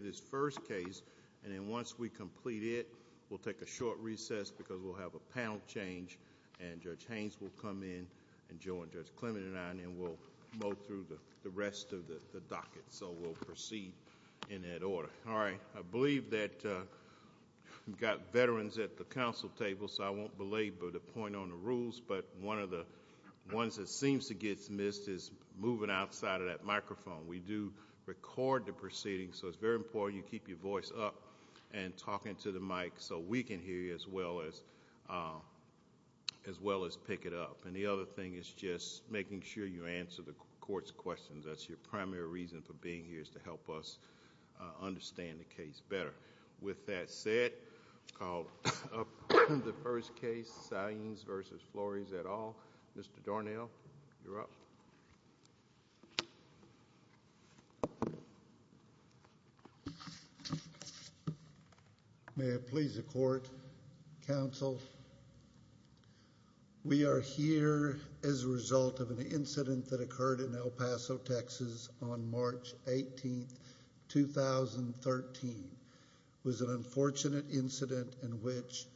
This first case, and then once we complete it, we'll take a short recess because we'll have a panel change, and Judge Haynes will come in, and Joe and Judge Clement and I, and then we'll mow through the rest of the docket. So we'll proceed in that order. All right, I believe that we've got veterans at the council table, so I won't belabor the point on the rules, but one of the ones that seems to get missed is moving outside of that microphone. We do record the proceedings, so it's very important you keep your voice up and talking to the mic so we can hear you as well as pick it up. And the other thing is just making sure you answer the court's questions. That's your primary reason for being here is to help us understand the case better. With that said, the first case, Saenz v. Flores et al. Mr. Dornell, you're up. May it please the court, counsel, we are here as a result of an incident that occurred in El Paso, Texas on March 18, 2013. It was an unfortunate incident in which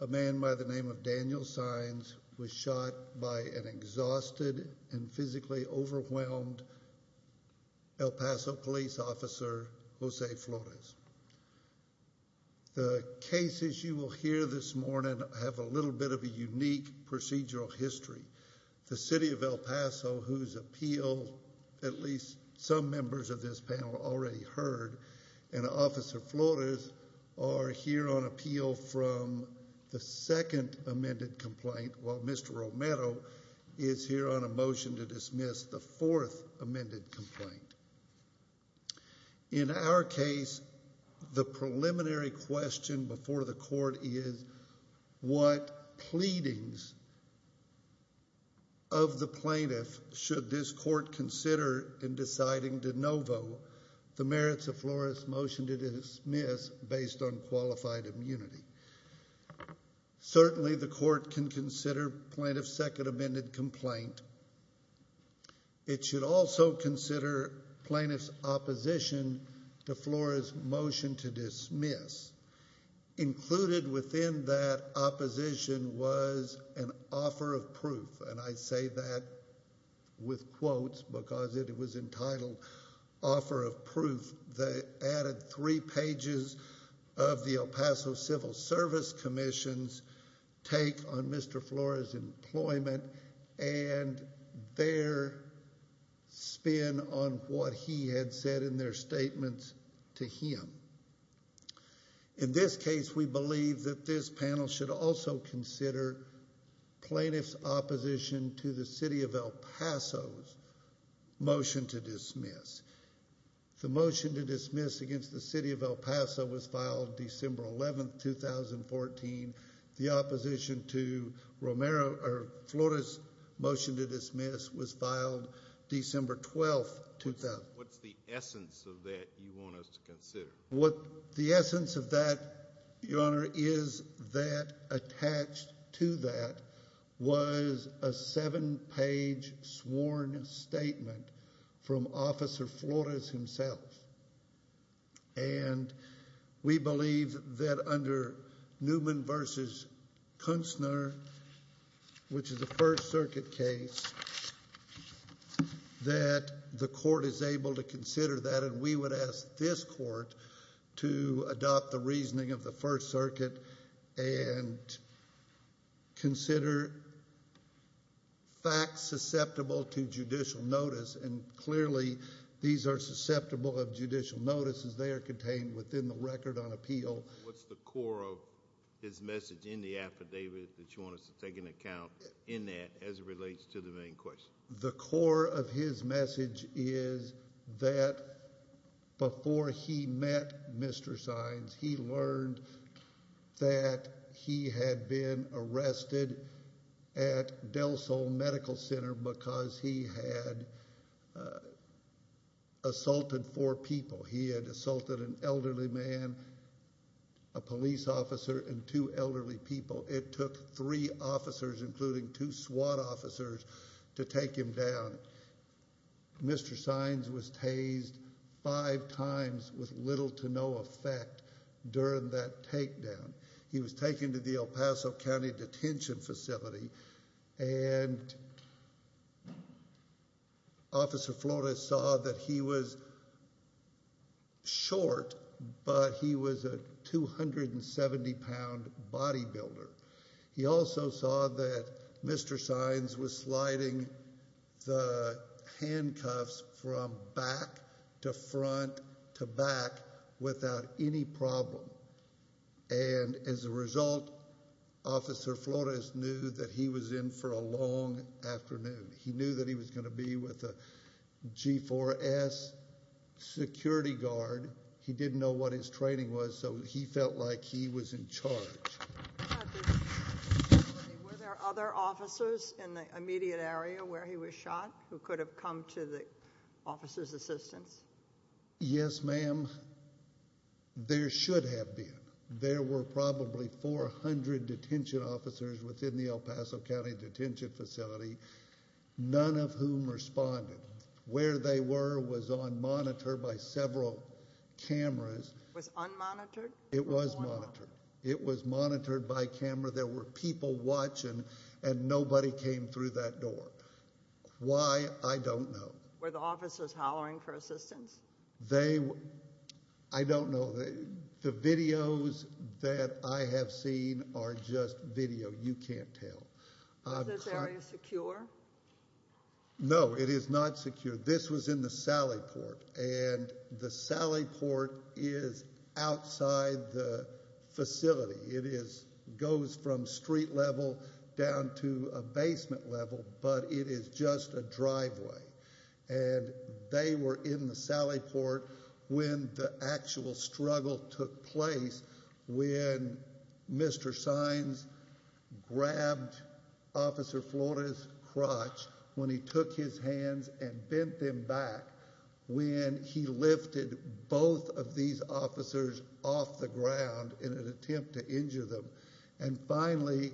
a man by the name of Daniel Saenz was shot by an exhausted and physically overwhelmed El Paso police officer, Jose Flores. The cases you will hear this morning have a little bit of a unique procedural history. The city of El Paso, whose appeal at least some members of this panel already heard, and Officer Flores are here on appeal from the second amended complaint, while Mr. Romero is here on a motion to dismiss the fourth amended complaint. In our case, the preliminary question before the court is what pleadings of the plaintiff should this court consider in deciding de novo the merits of Flores' motion to dismiss based on qualified immunity. Certainly the court can consider plaintiff's second amended complaint. It should also consider plaintiff's opposition to Flores' motion to dismiss. Included within that opposition was an offer of proof, and I say that with quotes because it was entitled offer of proof. The added three pages of the El Paso Civil Service Commission's take on Mr. Flores' employment and their spin on what he had said in their statements to him. In this case, we believe that this panel should also consider plaintiff's opposition to the city of El Paso's motion to dismiss. The motion to dismiss against the city of El Paso was filed December 11, 2014. The opposition to Romero or Flores' motion to dismiss was filed December 12, 2014. What's the essence of that you want us to consider? What the essence of that, Your Honor, is that attached to that was a seven-page sworn statement from Officer Flores himself. And we believe that under Newman v. Kunstner, which is a First Circuit case, that the court is able to consider that, and we would ask this court to adopt the reasoning of the First Circuit and consider facts susceptible to judicial notice. And clearly, these are susceptible of judicial notices. They are contained within the record on appeal. What's the core of his message in the affidavit that you want us to take into account in that as it relates to the main question? The core of his message is that before he met Mr. Sines, he learned that he had been arrested at Del Sol Medical Center because he had assaulted four people. He had assaulted an elderly man, a police officer, and two elderly people. It took three officers, including two SWAT officers, to take him down. Mr. Sines was tased five times with little to no effect during that takedown. He was taken to the El Paso County Detention Facility, and Officer Flores saw that he was short, but he was a 270-pound bodybuilder. He also saw that Mr. Sines was sliding the handcuffs from back to front to back without any problem. And as a result, Officer Flores knew that he was in for a long afternoon. He knew that he was going to be with a G4S security guard. He didn't know what his training was, so he felt like he was in charge. Were there other officers in the immediate area where he was shot who could have come to the officer's assistance? Yes, ma'am. There should have been. There were probably 400 detention officers within the El Paso County Detention Facility, none of whom responded. Where they were was on monitor by several cameras. It was unmonitored? It was monitored. It was monitored by camera. There were people watching, and nobody came through that door. Why, I don't know. Were the officers hollering for assistance? I don't know. The videos that I have seen are just video. You can't tell. Is this area secure? No, it is not secure. This was in the sally port, and the sally port is outside the facility. It goes from street level down to a basement level, but it is just a driveway. And they were in the sally port when the actual struggle took place, when Mr. Sines grabbed Officer Flores's crotch, when he took his hands and bent them back, when he lifted both of these officers off the ground in an attempt to injure them. And finally,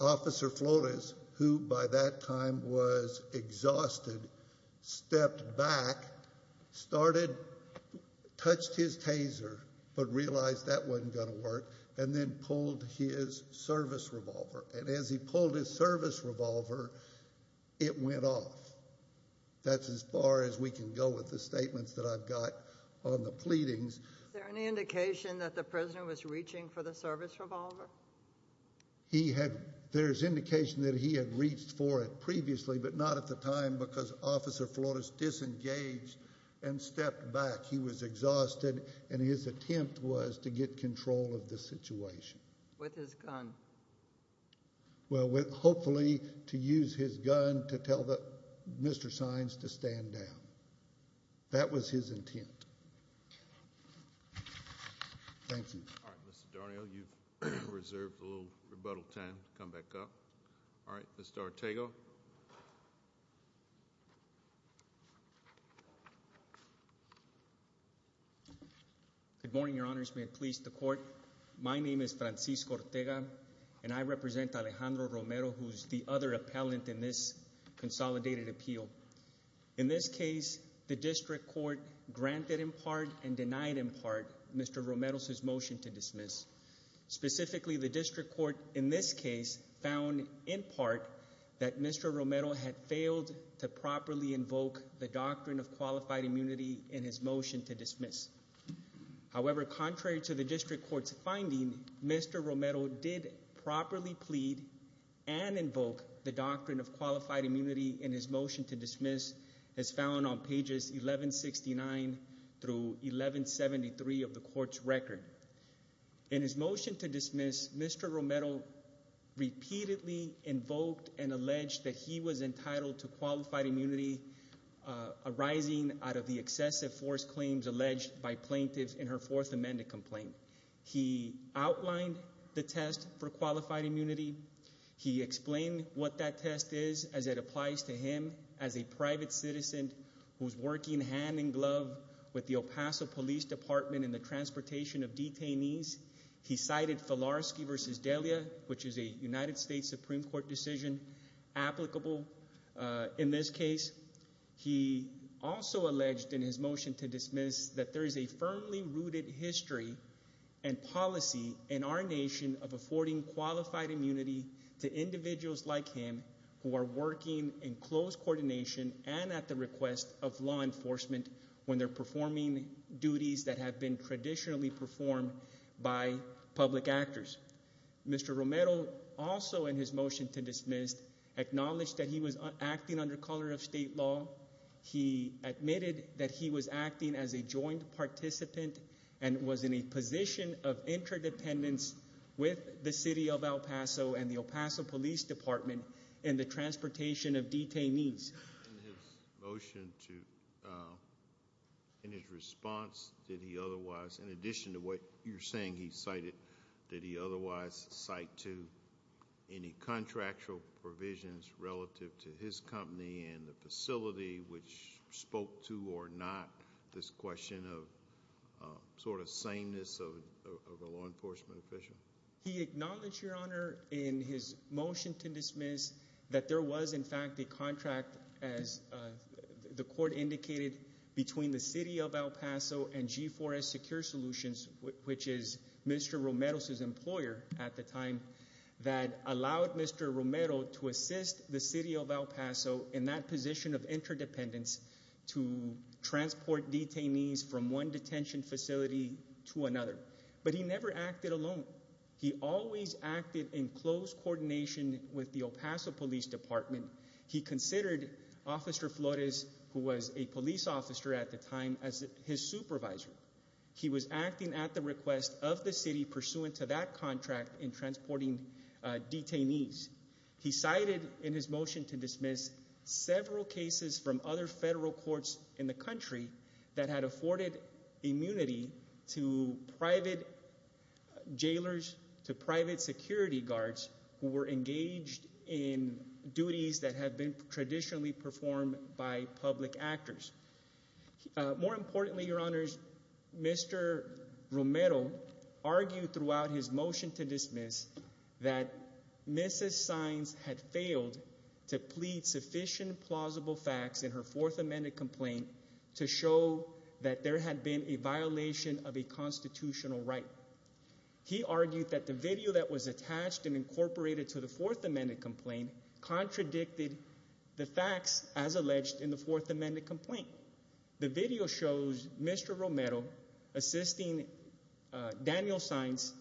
Officer Flores, who by that time was exhausted, stepped back, started, touched his taser, but realized that wasn't going to work, and then pulled his service revolver. And as he pulled his service revolver, it went off. That's as far as we can go with the statements that I've got on the pleadings. Is there any indication that the prisoner was reaching for the service revolver? There is indication that he had reached for it previously, but not at the time because Officer Flores disengaged and stepped back. He was exhausted, and his attempt was to get control of the situation. With his gun? Well, hopefully to use his gun to tell Mr. Sines to stand down. That was his intent. Thank you. All right, Mr. Darnielle, you've reserved a little rebuttal time to come back up. All right, Mr. Ortega. May it please the Court. My name is Francisco Ortega, and I represent Alejandro Romero, who is the other appellant in this consolidated appeal. In this case, the district court granted in part and denied in part Mr. Romero's motion to dismiss. Specifically, the district court in this case found in part that Mr. Romero had failed to properly invoke the doctrine of qualified immunity in his motion to dismiss. However, contrary to the district court's finding, Mr. Romero did properly plead and invoke the doctrine of qualified immunity in his motion to dismiss as found on pages 1169 through 1173 of the court's record. In his motion to dismiss, Mr. Romero repeatedly invoked and alleged that he was entitled to qualified immunity arising out of the excessive force claims alleged by plaintiffs in her Fourth Amendment complaint. He outlined the test for qualified immunity. He explained what that test is as it applies to him as a private citizen who is working hand in glove with the El Paso Police Department in the transportation of detainees. He cited Filarski v. Delia, which is a United States Supreme Court decision, applicable in this case. He also alleged in his motion to dismiss that there is a firmly rooted history and policy in our nation of affording qualified immunity to individuals like him who are working in close coordination and at the request of law enforcement when they're performing duties that have been traditionally performed by public actors. Mr. Romero also in his motion to dismiss acknowledged that he was acting under color of state law. He admitted that he was acting as a joint participant and was in a position of interdependence with the city of El Paso and the El Paso Police Department in the transportation of detainees. In his motion to – in his response, did he otherwise, in addition to what you're saying he cited, did he otherwise cite to any contractual provisions relative to his company and the facility which spoke to or not this question of sort of sameness of a law enforcement official? He acknowledged, Your Honor, in his motion to dismiss that there was in fact a contract, as the court indicated, between the city of El Paso and G4S Secure Solutions, which is Mr. Romero's employer at the time, that allowed Mr. Romero to assist the city of El Paso in that position of interdependence to transport detainees from one detention facility to another. But he never acted alone. He always acted in close coordination with the El Paso Police Department. He considered Officer Flores, who was a police officer at the time, as his supervisor. He was acting at the request of the city pursuant to that contract in transporting detainees. He cited in his motion to dismiss several cases from other federal courts in the country that had afforded immunity to private jailers, to private security guards, who were engaged in duties that had been traditionally performed by public actors. More importantly, Your Honors, Mr. Romero argued throughout his motion to dismiss that Mrs. Saenz had failed to plead sufficient plausible facts in her Fourth Amendment complaint to show that there had been a violation of a constitutional right. He argued that the video that was attached and incorporated to the Fourth Amendment complaint contradicted the facts as alleged in the Fourth Amendment complaint. The video shows Mr. Romero assisting Daniel Saenz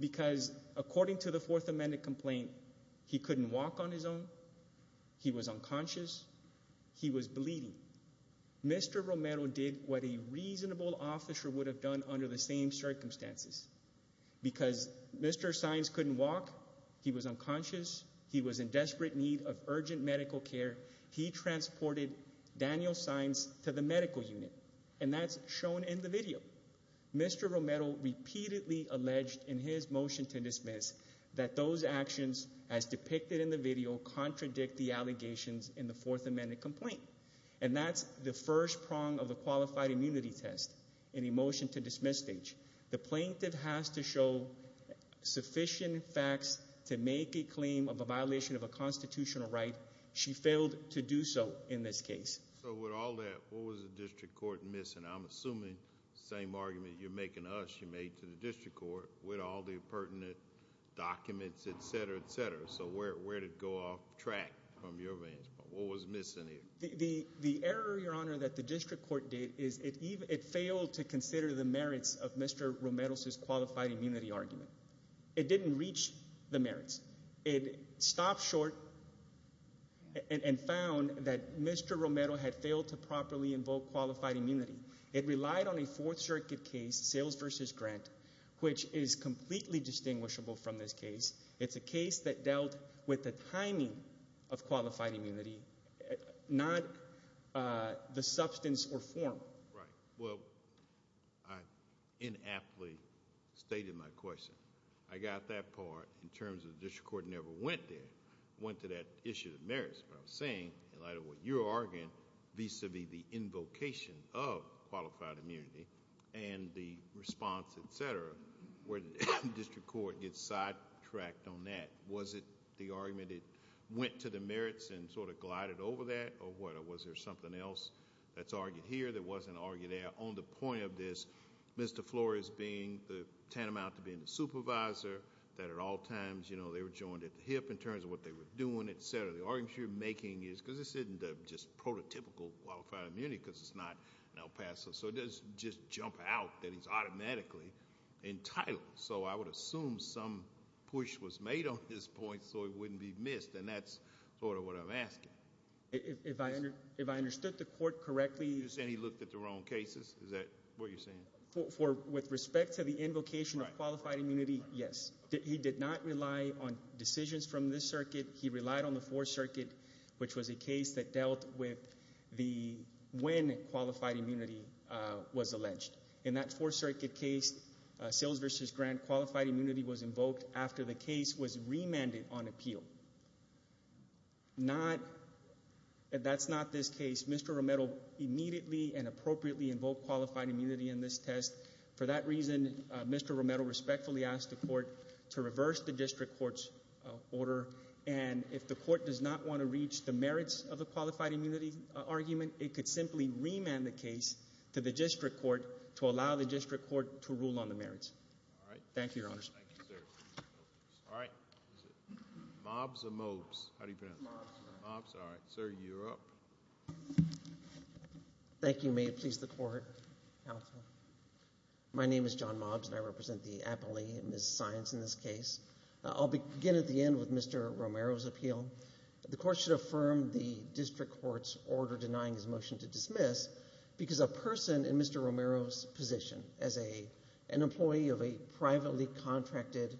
because, according to the Fourth Amendment complaint, he couldn't walk on his own, he was unconscious, he was bleeding. Mr. Romero did what a reasonable officer would have done under the same circumstances. Because Mr. Saenz couldn't walk, he was unconscious, he was in desperate need of urgent medical care, he transported Daniel Saenz to the medical unit, and that's shown in the video. Mr. Romero repeatedly alleged in his motion to dismiss that those actions as depicted in the video contradict the allegations in the Fourth Amendment complaint. And that's the first prong of a qualified immunity test in a motion to dismiss stage. The plaintiff has to show sufficient facts to make a claim of a violation of a constitutional right. She failed to do so in this case. So with all that, what was the district court missing? I'm assuming the same argument you're making to us you made to the district court with all the pertinent documents, etc., etc. So where did it go off track from your vantage point? What was missing here? The error, Your Honor, that the district court did is it failed to consider the merits of Mr. Romero's qualified immunity argument. It didn't reach the merits. It stopped short and found that Mr. Romero had failed to properly invoke qualified immunity. It relied on a Fourth Circuit case, Sales v. Grant, which is completely distinguishable from this case. It's a case that dealt with the timing of qualified immunity, not the substance or form. Right. Well, I inaptly stated my question. I got that part in terms of the district court never went there, went to that issue of merits. But I'm saying in light of what you're arguing vis-a-vis the invocation of qualified immunity and the response, etc., where the district court gets sidetracked on that. Was it the argument it went to the merits and sort of glided over that or what? Or was there something else that's argued here that wasn't argued there? On the point of this, Mr. Flores being the tantamount to being the supervisor, that at all times they were joined at the hip in terms of what they were doing, etc. The argument you're making is because this isn't just prototypical qualified immunity because it's not an El Paso. So it doesn't just jump out that he's automatically entitled. So I would assume some push was made on this point so it wouldn't be missed, and that's sort of what I'm asking. If I understood the court correctly— You're saying he looked at the wrong cases? Is that what you're saying? With respect to the invocation of qualified immunity, yes. He did not rely on decisions from this circuit. He relied on the Fourth Circuit, which was a case that dealt with when qualified immunity was alleged. In that Fourth Circuit case, Sales v. Grant, qualified immunity was invoked after the case was remanded on appeal. That's not this case. Mr. Romero immediately and appropriately invoked qualified immunity in this test. For that reason, Mr. Romero respectfully asked the court to reverse the district court's order, and if the court does not want to reach the merits of the qualified immunity argument, it could simply remand the case to the district court to allow the district court to rule on the merits. Thank you, Your Honors. Thank you, sir. All right. Mobs or Mobs? How do you pronounce it? Mobs. Mobs, all right. Sir, you're up. Thank you. May it please the Court. My name is John Mobs, and I represent the Appalachian Miss Science in this case. I'll begin at the end with Mr. Romero's appeal. The court should affirm the district court's order denying his motion to dismiss because a person in Mr. Romero's position as an employee of a privately contracted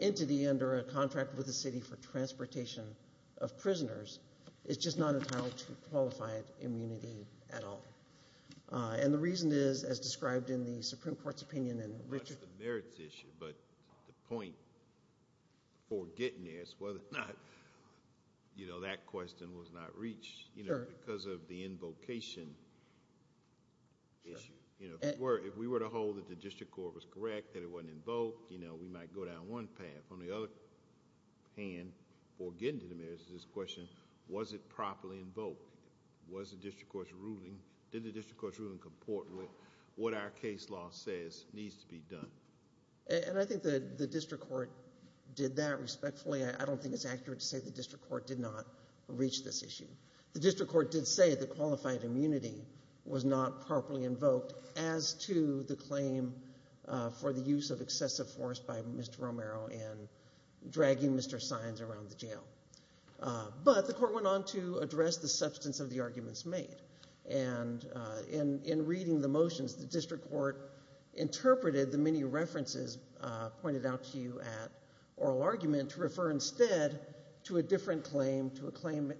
entity under a contract with the city for transportation of prisoners is just not entitled to qualified immunity at all. And the reason is, as described in the Supreme Court's opinion in Richard— Not the merits issue, but the point before getting there is whether or not that question was not reached. Because of the invocation issue. If we were to hold that the district court was correct, that it wasn't invoked, we might go down one path. On the other hand, before getting to the merits of this question, was it properly invoked? Did the district court's ruling comport with what our case law says needs to be done? I think the district court did that respectfully. I don't think it's accurate to say the district court did not reach this issue. The district court did say that qualified immunity was not properly invoked as to the claim for the use of excessive force by Mr. Romero in dragging Mr. Science around the jail. But the court went on to address the substance of the arguments made. And in reading the motions, the district court interpreted the many references pointed out to you at oral argument to refer instead to a different claim, to a claim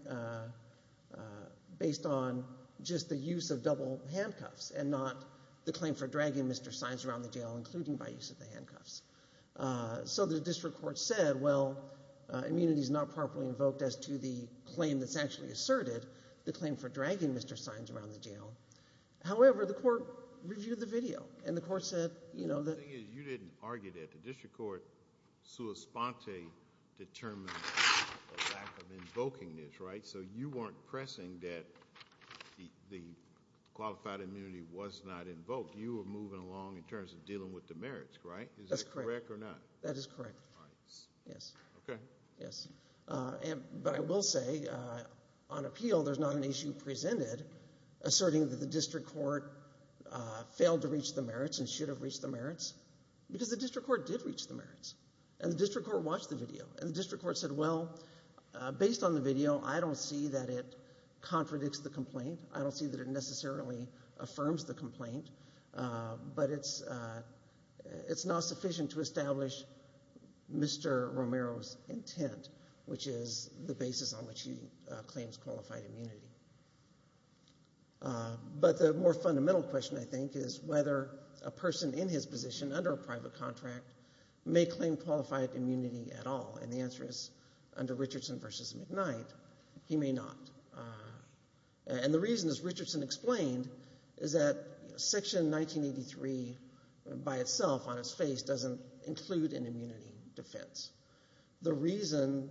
based on just the use of double handcuffs and not the claim for dragging Mr. Science around the jail, including by use of the handcuffs. So the district court said, well, immunity is not properly invoked as to the claim that's actually asserted, the claim for dragging Mr. Science around the jail. However, the court reviewed the video, and the court said— The thing is you didn't argue that. The district court sua sponte determined a lack of invoking this, right? So you weren't pressing that the qualified immunity was not invoked. You were moving along in terms of dealing with the merits, right? Is that correct or not? That is correct. All right. Yes. Okay. Yes. But I will say on appeal there's not an issue presented asserting that the district court failed to reach the merits and should have reached the merits, because the district court did reach the merits. And the district court watched the video. And the district court said, well, based on the video, I don't see that it contradicts the complaint. I don't see that it necessarily affirms the complaint. But it's not sufficient to establish Mr. Romero's intent, which is the basis on which he claims qualified immunity. But the more fundamental question, I think, is whether a person in his position under a private contract may claim qualified immunity at all. And the answer is, under Richardson v. McKnight, he may not. And the reason, as Richardson explained, is that Section 1983 by itself on its face doesn't include an immunity defense. The reason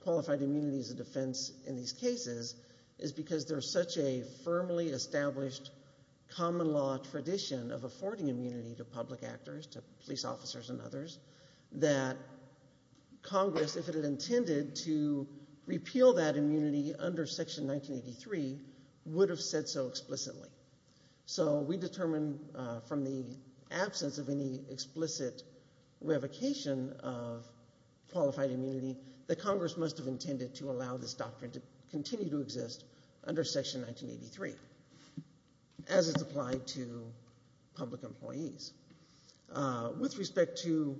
qualified immunity is a defense in these cases is because there's such a firmly established common law tradition of affording immunity to public actors, to police officers and others, that Congress, if it had intended to repeal that immunity under Section 1983, would have said so explicitly. So we determine from the absence of any explicit revocation of qualified immunity that Congress must have intended to allow this doctrine to continue to exist under Section 1983, as it's applied to public employees. With respect to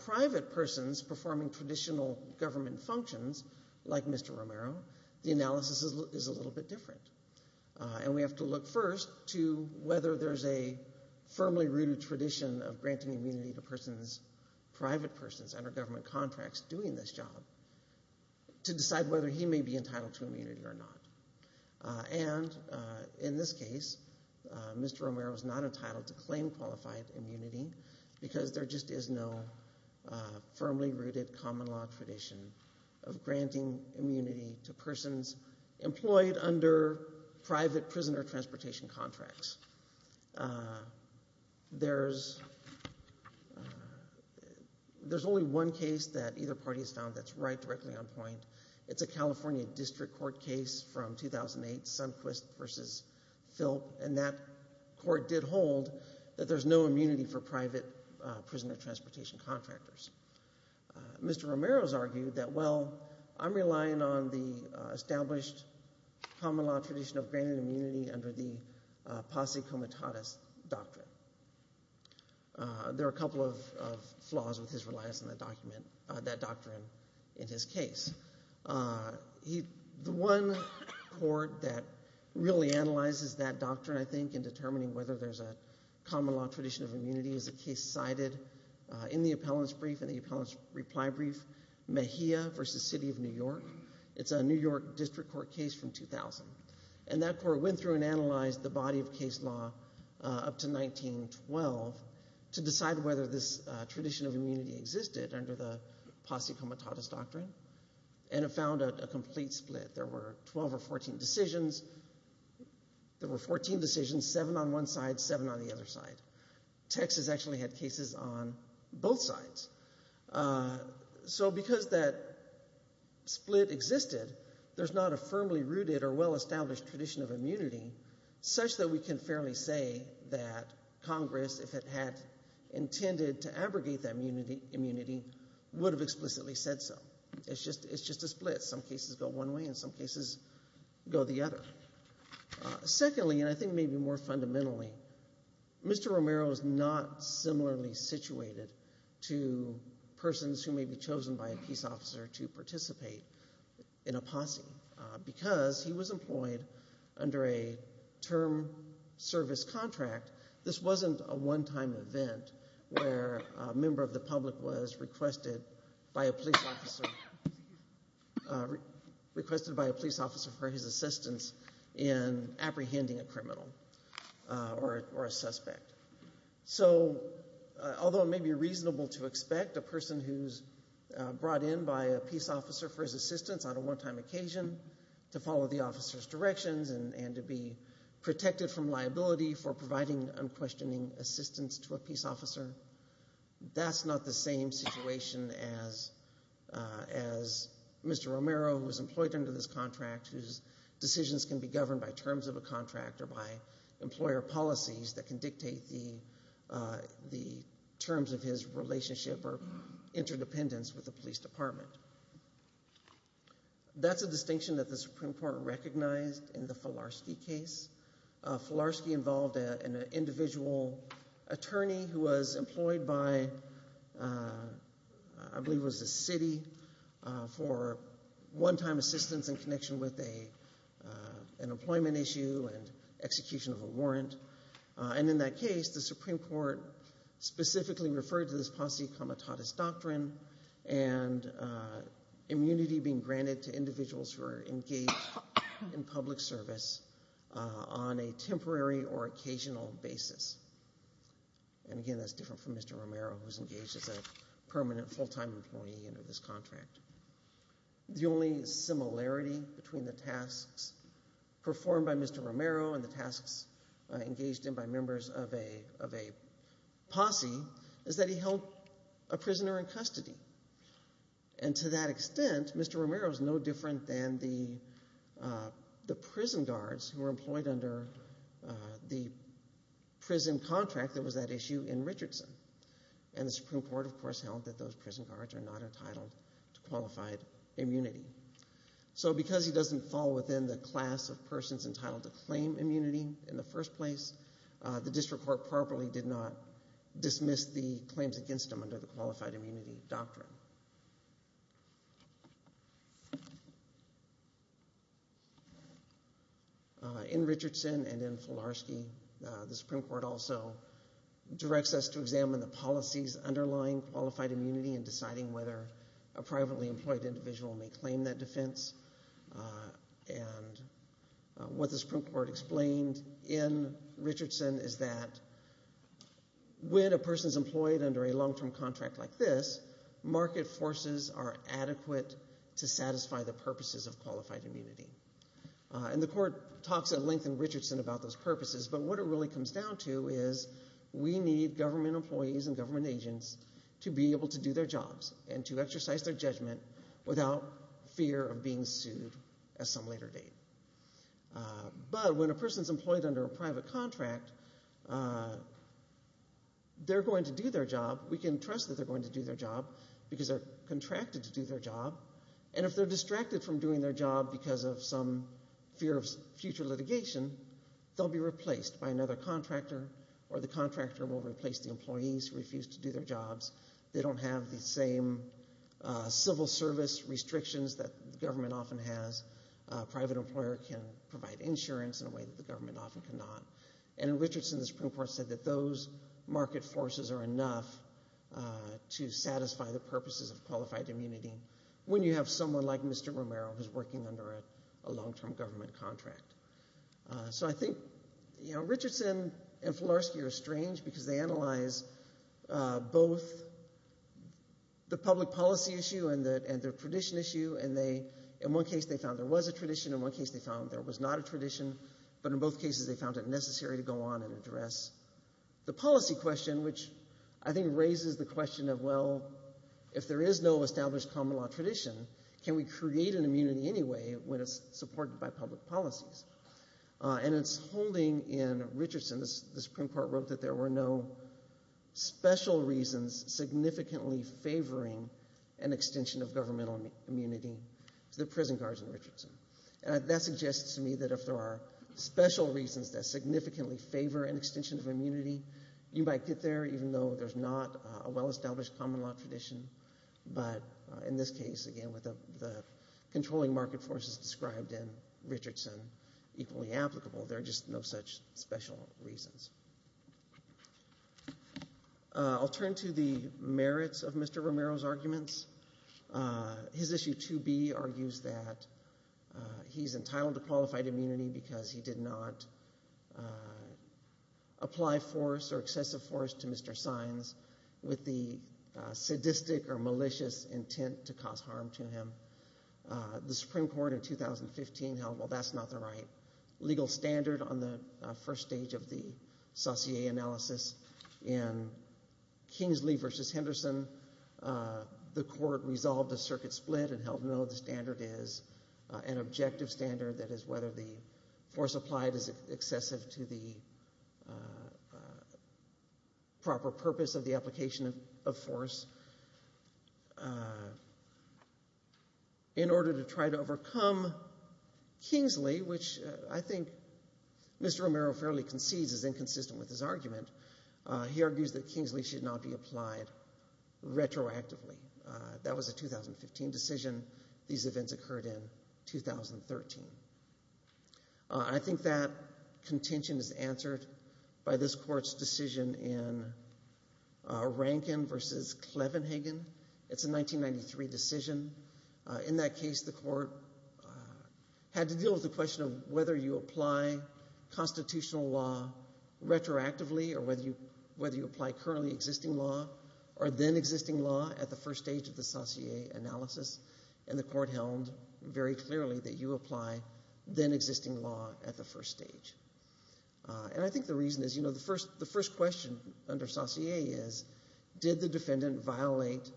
private persons performing traditional government functions, like Mr. Romero, the analysis is a little bit different. And we have to look first to whether there's a firmly rooted tradition of granting immunity to private persons under government contracts doing this job, to decide whether he may be entitled to immunity or not. And in this case, Mr. Romero is not entitled to claim qualified immunity, because there just is no firmly rooted common law tradition of granting immunity to persons employed under private prisoner transportation contracts. There's only one case that either party has found that's right directly on point. It's a California district court case from 2008, Sundquist v. Phelps, and that court did hold that there's no immunity for private prisoner transportation contractors. Mr. Romero has argued that, well, I'm relying on the established common law tradition of granting immunity under the posse comitatus doctrine. There are a couple of flaws with his reliance on that doctrine in his case. The one court that really analyzes that doctrine, I think, in determining whether there's a common law tradition of immunity, is a case cited in the appellant's brief, in the appellant's reply brief, Mejia v. City of New York. It's a New York district court case from 2000. And that court went through and analyzed the body of case law up to 1912 to decide whether this tradition of immunity existed under the posse comitatus doctrine, and it found a complete split. There were 12 or 14 decisions. There were 14 decisions, seven on one side, seven on the other side. Texas actually had cases on both sides. So because that split existed, there's not a firmly rooted or well-established tradition of immunity, such that we can fairly say that Congress, if it had intended to abrogate that immunity, would have explicitly said so. It's just a split. Some cases go one way and some cases go the other. Secondly, and I think maybe more fundamentally, Mr. Romero is not similarly situated to persons who may be chosen by a peace officer to participate in a posse because he was employed under a term service contract. This wasn't a one-time event where a member of the public was requested by a police officer for his assistance in apprehending a criminal or a suspect. So although it may be reasonable to expect a person who's brought in by a peace officer for his assistance on a one-time occasion to follow the officer's directions and to be protected from liability for providing unquestioning assistance to a peace officer, that's not the same situation as Mr. Romero, who was employed under this contract, whose decisions can be governed by terms of a contract or by employer policies that can dictate the terms of his relationship or interdependence with the police department. That's a distinction that the Supreme Court recognized in the Falarski case. Falarski involved an individual attorney who was employed by, I believe it was the city, for one-time assistance in connection with an employment issue and execution of a warrant. And in that case, the Supreme Court specifically referred to this posse comitatus doctrine and immunity being granted to individuals who are engaged in public service on a temporary or occasional basis. And again, that's different from Mr. Romero, who's engaged as a permanent full-time employee under this contract. The only similarity between the tasks performed by Mr. Romero and the tasks engaged in by members of a posse is that he held a prisoner in custody. And to that extent, Mr. Romero is no different than the prison guards who were employed under the prison contract that was at issue in Richardson. And the Supreme Court, of course, held that those prison guards are not entitled to qualified immunity. So because he doesn't fall within the class of persons entitled to claim immunity in the first place, the district court properly did not dismiss the claims against him under the qualified immunity doctrine. In Richardson and in Filarski, the Supreme Court also directs us to examine the policies underlying qualified immunity in deciding whether a privately employed individual may claim that defense. And what the Supreme Court explained in Richardson is that when a person is employed under a long-term contract like this, market forces are adequate to satisfy the purposes of qualified immunity. And the court talks at length in Richardson about those purposes, but what it really comes down to is we need government employees and government agents to be able to do their jobs and to exercise their judgment without fear of being sued at some later date. But when a person is employed under a private contract, they're going to do their job. We can trust that they're going to do their job because they're contracted to do their job. And if they're distracted from doing their job because of some fear of future litigation, they'll be replaced by another contractor or the contractor will replace the employees who refuse to do their jobs. They don't have the same civil service restrictions that the government often has. A private employer can provide insurance in a way that the government often cannot. And in Richardson, the Supreme Court said that those market forces are enough to satisfy the purposes of qualified immunity when you have someone like Mr. Romero who's working under a long-term government contract. So I think Richardson and Filarski are strange because they analyze both the public policy issue and the tradition issue, and in one case they found there was a tradition, in one case they found there was not a tradition, but in both cases they found it necessary to go on and address the policy question, which I think raises the question of, well, if there is no established common law tradition, can we create an immunity anyway when it's supported by public policies? And it's holding in Richardson, the Supreme Court wrote that there were no special reasons significantly favoring an extension of governmental immunity to the prison guards in Richardson. And that suggests to me that if there are special reasons that significantly favor an extension of immunity, you might get there even though there's not a well-established common law tradition. But in this case, again, with the controlling market forces described in Richardson equally applicable, there are just no such special reasons. I'll turn to the merits of Mr. Romero's arguments. His issue 2B argues that he's entitled to qualified immunity because he did not apply force or excessive force to Mr. Sines with the sadistic or malicious intent to cause harm to him. The Supreme Court in 2015 held, well, that's not the right legal standard on the first stage of the Saussure analysis. In Kingsley v. Henderson, the court resolved a circuit split and held no, the standard is an objective standard, that is whether the force applied is excessive to the proper purpose of the application of force. In order to try to overcome Kingsley, which I think Mr. Romero fairly concedes is inconsistent with his argument, he argues that Kingsley should not be applied retroactively. That was a 2015 decision. These events occurred in 2013. I think that contention is answered by this court's decision in Rankin v. Clevenhagen. It's a 1993 decision. In that case, the court had to deal with the question of whether you apply constitutional law retroactively or whether you apply currently existing law or then existing law at the first stage of the Saussure analysis, and the court held very clearly that you apply then existing law at the first stage. And I think the reason is, you know, the first question under Saussure is, did the defendant violate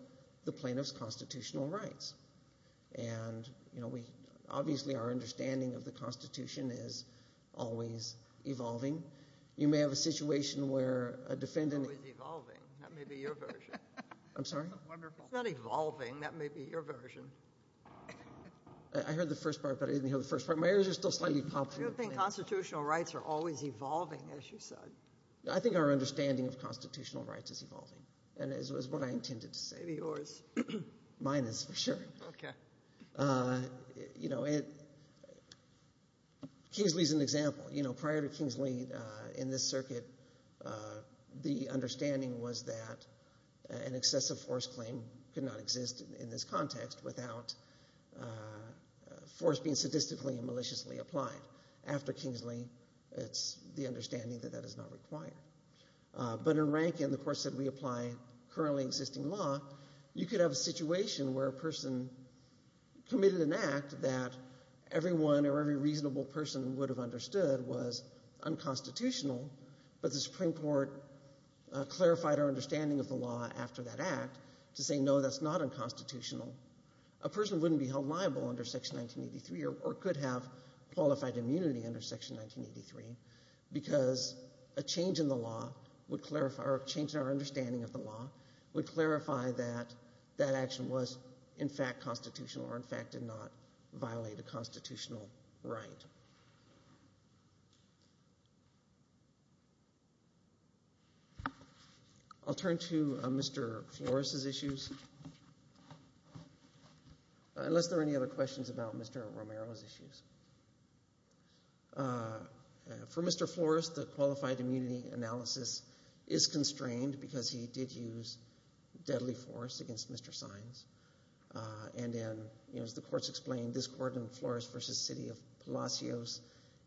the plaintiff's constitutional rights? And, you know, obviously our understanding of the Constitution is always evolving. You may have a situation where a defendant- Always evolving. That may be your version. I'm sorry? Wonderful. It's not evolving. That may be your version. I heard the first part, but I didn't hear the first part. My ears are still slightly popped. I don't think constitutional rights are always evolving, as you said. I think our understanding of constitutional rights is evolving, and it was what I intended to say. Maybe yours. Mine is, for sure. Okay. You know, Kingsley is an example. You know, prior to Kingsley in this circuit, the understanding was that an excessive force claim could not exist in this context without force being sadistically and maliciously applied. After Kingsley, it's the understanding that that is not required. But in Rankin, the course that we apply currently existing law, you could have a situation where a person committed an act that everyone or every reasonable person would have understood was unconstitutional, but the Supreme Court clarified our understanding of the law after that act to say, no, that's not unconstitutional. A person wouldn't be held liable under Section 1983 or could have qualified immunity under Section 1983 because a change in the law would clarify- or a change in our understanding of the law would clarify that that action was in fact constitutional or, in fact, did not violate a constitutional right. I'll turn to Mr. Flores' issues, unless there are any other questions about Mr. Romero's issues. For Mr. Flores, the qualified immunity analysis is constrained because he did use deadly force against Mr. Sines. And as the courts explained, this court in Flores v. City of Palacios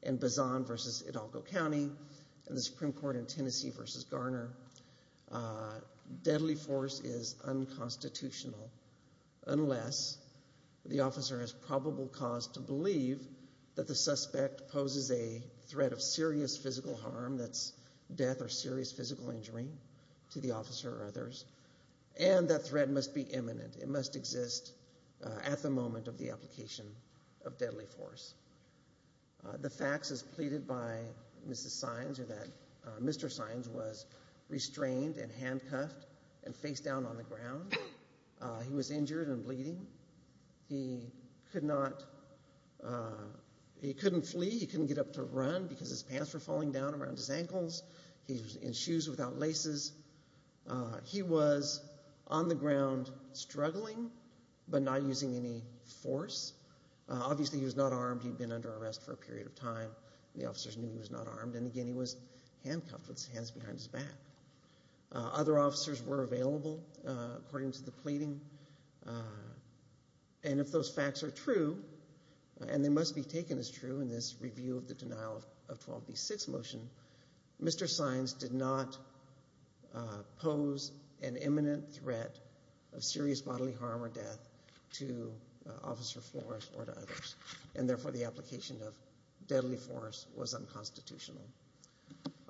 and Bazan v. Hidalgo County and the Supreme Court in Tennessee v. Garner, deadly force is unconstitutional unless the officer has probable cause to believe that the suspect poses a threat of serious physical harm, that's death or serious physical injury to the officer or others, and that threat must be imminent. It must exist at the moment of the application of deadly force. The facts as pleaded by Mr. Sines are that Mr. Sines was restrained and handcuffed and face down on the ground. He was injured and bleeding. He couldn't flee. He couldn't get up to run because his pants were falling down around his ankles. He was in shoes without laces. He was on the ground struggling but not using any force. Obviously, he was not armed. He'd been under arrest for a period of time. The officers knew he was not armed. And, again, he was handcuffed with his hands behind his back. Other officers were available according to the pleading. And if those facts are true, and they must be taken as true in this review of the denial of 12B6 motion, Mr. Sines did not pose an imminent threat of serious bodily harm or death to Officer Flores or to others, and, therefore, the application of deadly force was unconstitutional.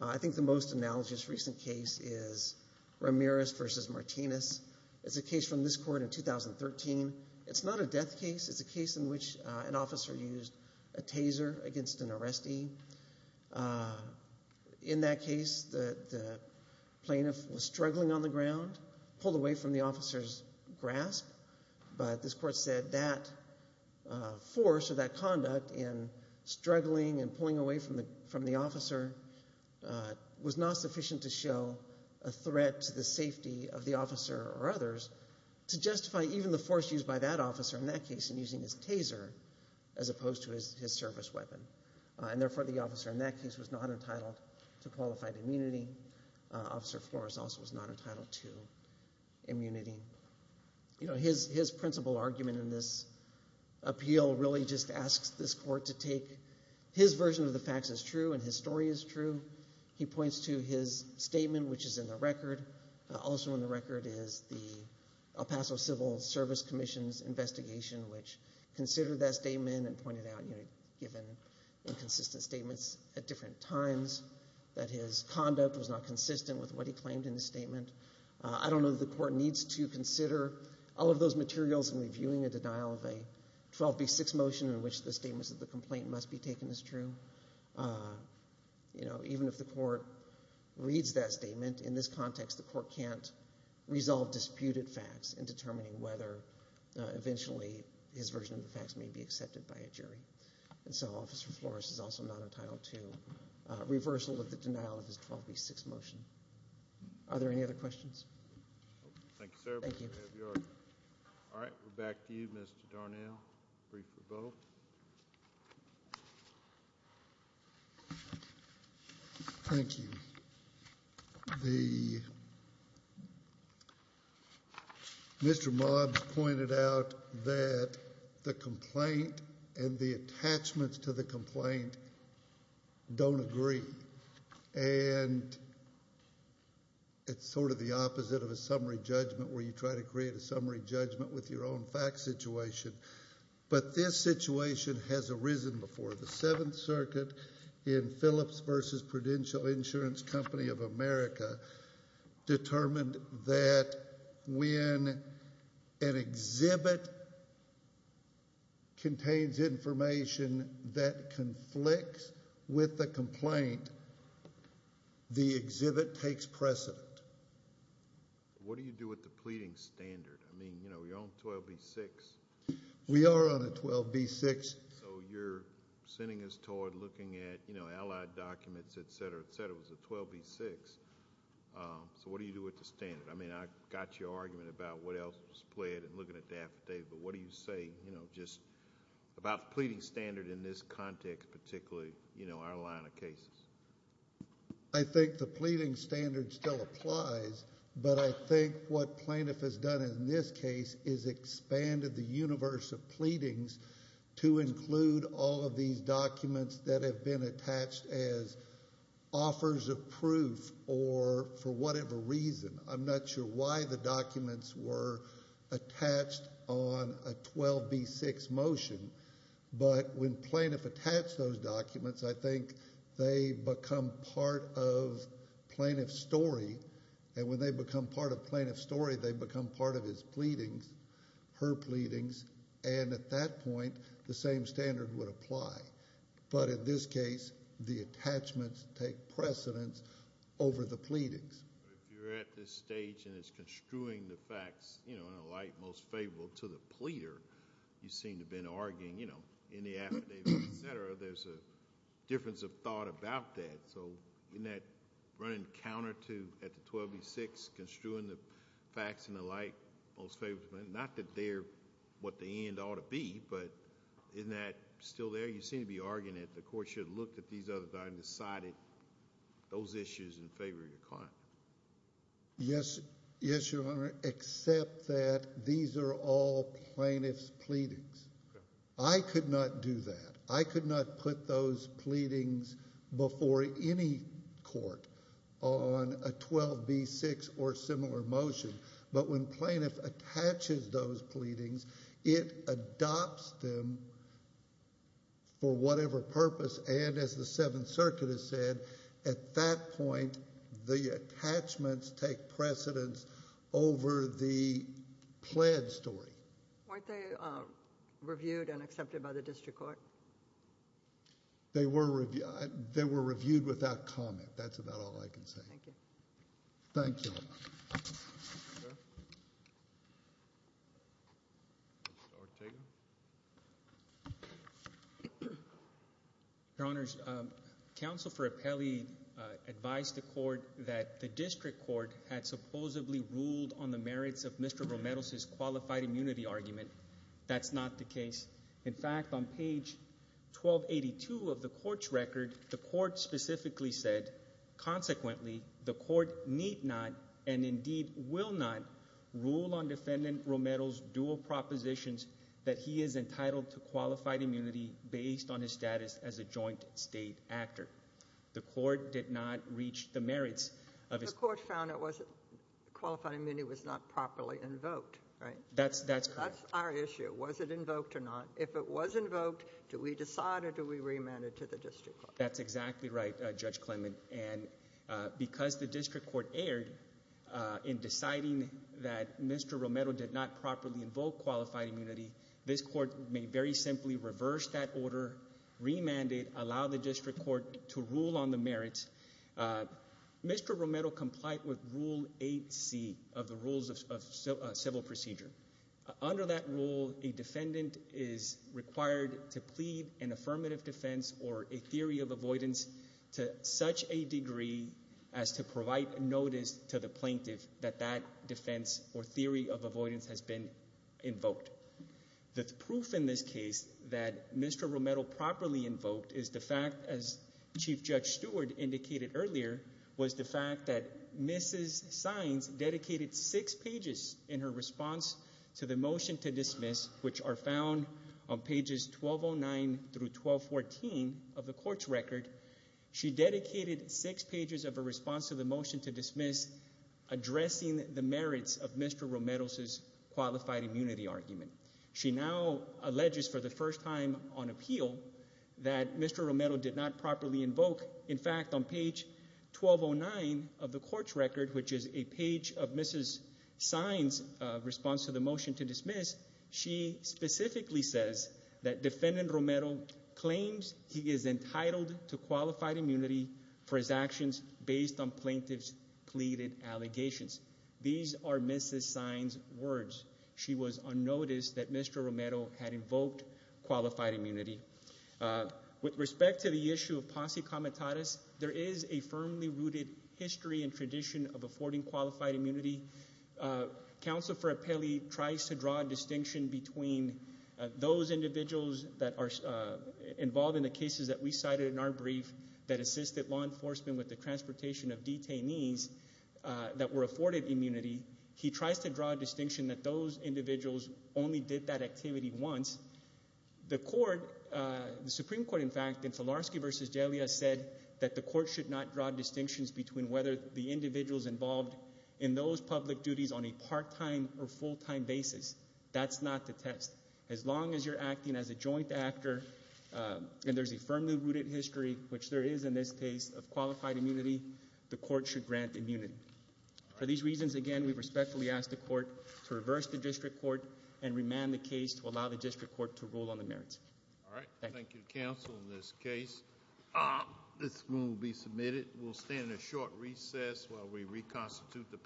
I think the most analogous recent case is Ramirez v. Martinez. It's a case from this court in 2013. It's not a death case. It's a case in which an officer used a taser against an arrestee. In that case, the plaintiff was struggling on the ground, pulled away from the officer's grasp, but this court said that force or that conduct in struggling and pulling away from the officer was not sufficient to show a threat to the safety of the officer or others. To justify even the force used by that officer in that case in using his taser as opposed to his service weapon. And, therefore, the officer in that case was not entitled to qualified immunity. Officer Flores also was not entitled to immunity. His principal argument in this appeal really just asks this court to take his version of the facts as true and his story as true. He points to his statement, which is in the record. Also in the record is the El Paso Civil Service Commission's investigation, which considered that statement and pointed out, given inconsistent statements at different times, that his conduct was not consistent with what he claimed in the statement. I don't know that the court needs to consider all of those materials in reviewing a denial of a 12B6 motion in which the statement of the complaint must be taken as true. Even if the court reads that statement, in this context, the court can't resolve disputed facts in determining whether eventually his version of the facts may be accepted by a jury. And so Officer Flores is also not entitled to reversal of the denial of his 12B6 motion. Are there any other questions? Thank you, sir. Thank you. All right. We're back to you, Mr. Darnell. Brief rebuttal. Thank you. Mr. Mobs pointed out that the complaint and the attachments to the complaint don't agree, and it's sort of the opposite of a summary judgment where you try to create a summary judgment with your own fact situation. But this situation has arisen before. The Seventh Circuit in Phillips v. Prudential Insurance Company of America determined that when an exhibit contains information that conflicts with the complaint, the exhibit takes precedent. What do you do with the pleading standard? I mean, you're on 12B6. We are on a 12B6. So you're sending us toward looking at allied documents, et cetera, et cetera. It was a 12B6. So what do you do with the standard? I mean, I got your argument about what else was pled and looking at the affidavit, but what do you say just about the pleading standard in this context, particularly our line of cases? I think the pleading standard still applies, but I think what plaintiff has done in this case is expanded the universe of pleadings to include all of these documents that have been attached as offers of proof or for whatever reason. I'm not sure why the documents were attached on a 12B6 motion, but when plaintiff attached those documents, I think they become part of plaintiff's story, and when they become part of plaintiff's story, they become part of his pleadings, her pleadings, and at that point the same standard would apply. But in this case, the attachments take precedence over the pleadings. If you're at this stage and it's construing the facts, you know, in the affidavit, et cetera, there's a difference of thought about that. So in that running counter to, at the 12B6, construing the facts and the like, not that they're what the end ought to be, but isn't that still there? You seem to be arguing that the court should have looked at these other documents and decided those issues in favor of your client. Yes, Your Honor, except that these are all plaintiff's pleadings. I could not do that. I could not put those pleadings before any court on a 12B6 or similar motion, but when plaintiff attaches those pleadings, it adopts them for whatever purpose, and as the Seventh Circuit has said, at that point the attachments take precedence over the pled story. Weren't they reviewed and accepted by the district court? They were reviewed without comment. That's about all I can say. Thank you. Thank you. Mr. Ortega. Your Honors, Counsel for Apelli advised the court that the district court had supposedly ruled on the merits of Mr. Romero's qualified immunity argument. That's not the case. In fact, on page 1282 of the court's record, the court specifically said, consequently, the court need not and indeed will not rule on Defendant Romero's dual propositions that he is entitled to qualified immunity based on his status as a joint state actor. The court did not reach the merits of his claim. The court found that qualified immunity was not properly invoked, right? That's correct. That's our issue, was it invoked or not. If it was invoked, do we decide or do we remand it to the district court? That's exactly right, Judge Clement, and because the district court erred in deciding that Mr. Romero did not properly invoke qualified immunity, this court may very simply reverse that order, remand it, allow the district court to rule on the merits. Mr. Romero complied with Rule 8C of the Rules of Civil Procedure. Under that rule, a defendant is required to plead an affirmative defense or a theory of avoidance to such a degree as to provide notice to the plaintiff that that defense or theory of avoidance has been invoked. The proof in this case that Mr. Romero properly invoked is the fact, as Chief Judge Stewart indicated earlier, was the fact that Mrs. Sines dedicated six pages in her response to the motion to dismiss, which are found on pages 1209 through 1214 of the court's record. She dedicated six pages of her response to the motion to dismiss addressing the merits of Mr. Romero's qualified immunity argument. She now alleges for the first time on appeal that Mr. Romero did not properly invoke. In fact, on page 1209 of the court's record, which is a page of Mrs. Sines' response to the motion to dismiss, she specifically says that Defendant Romero claims he is entitled to qualified immunity for his actions based on plaintiff's pleaded allegations. These are Mrs. Sines' words. She was unnoticed that Mr. Romero had invoked qualified immunity. With respect to the issue of posse comitatus, there is a firmly rooted history and tradition of affording qualified immunity. Counsel for appellee tries to draw a distinction between those individuals that are involved in the cases that we cited in our brief that assisted law interpretation of detainees that were afforded immunity. He tries to draw a distinction that those individuals only did that activity once. The Supreme Court, in fact, in Filarski v. Delia said that the court should not draw distinctions between whether the individuals involved in those public duties on a part-time or full-time basis. That's not the test. As long as you're acting as a joint actor and there's a firmly rooted history, which there is in this case, of qualified immunity, the court should grant immunity. For these reasons, again, we respectfully ask the court to reverse the district court and remand the case to allow the district court to rule on the merits. Thank you. Thank you, counsel, in this case. This ruling will be submitted. We'll stand at short recess while we reconstitute the panel.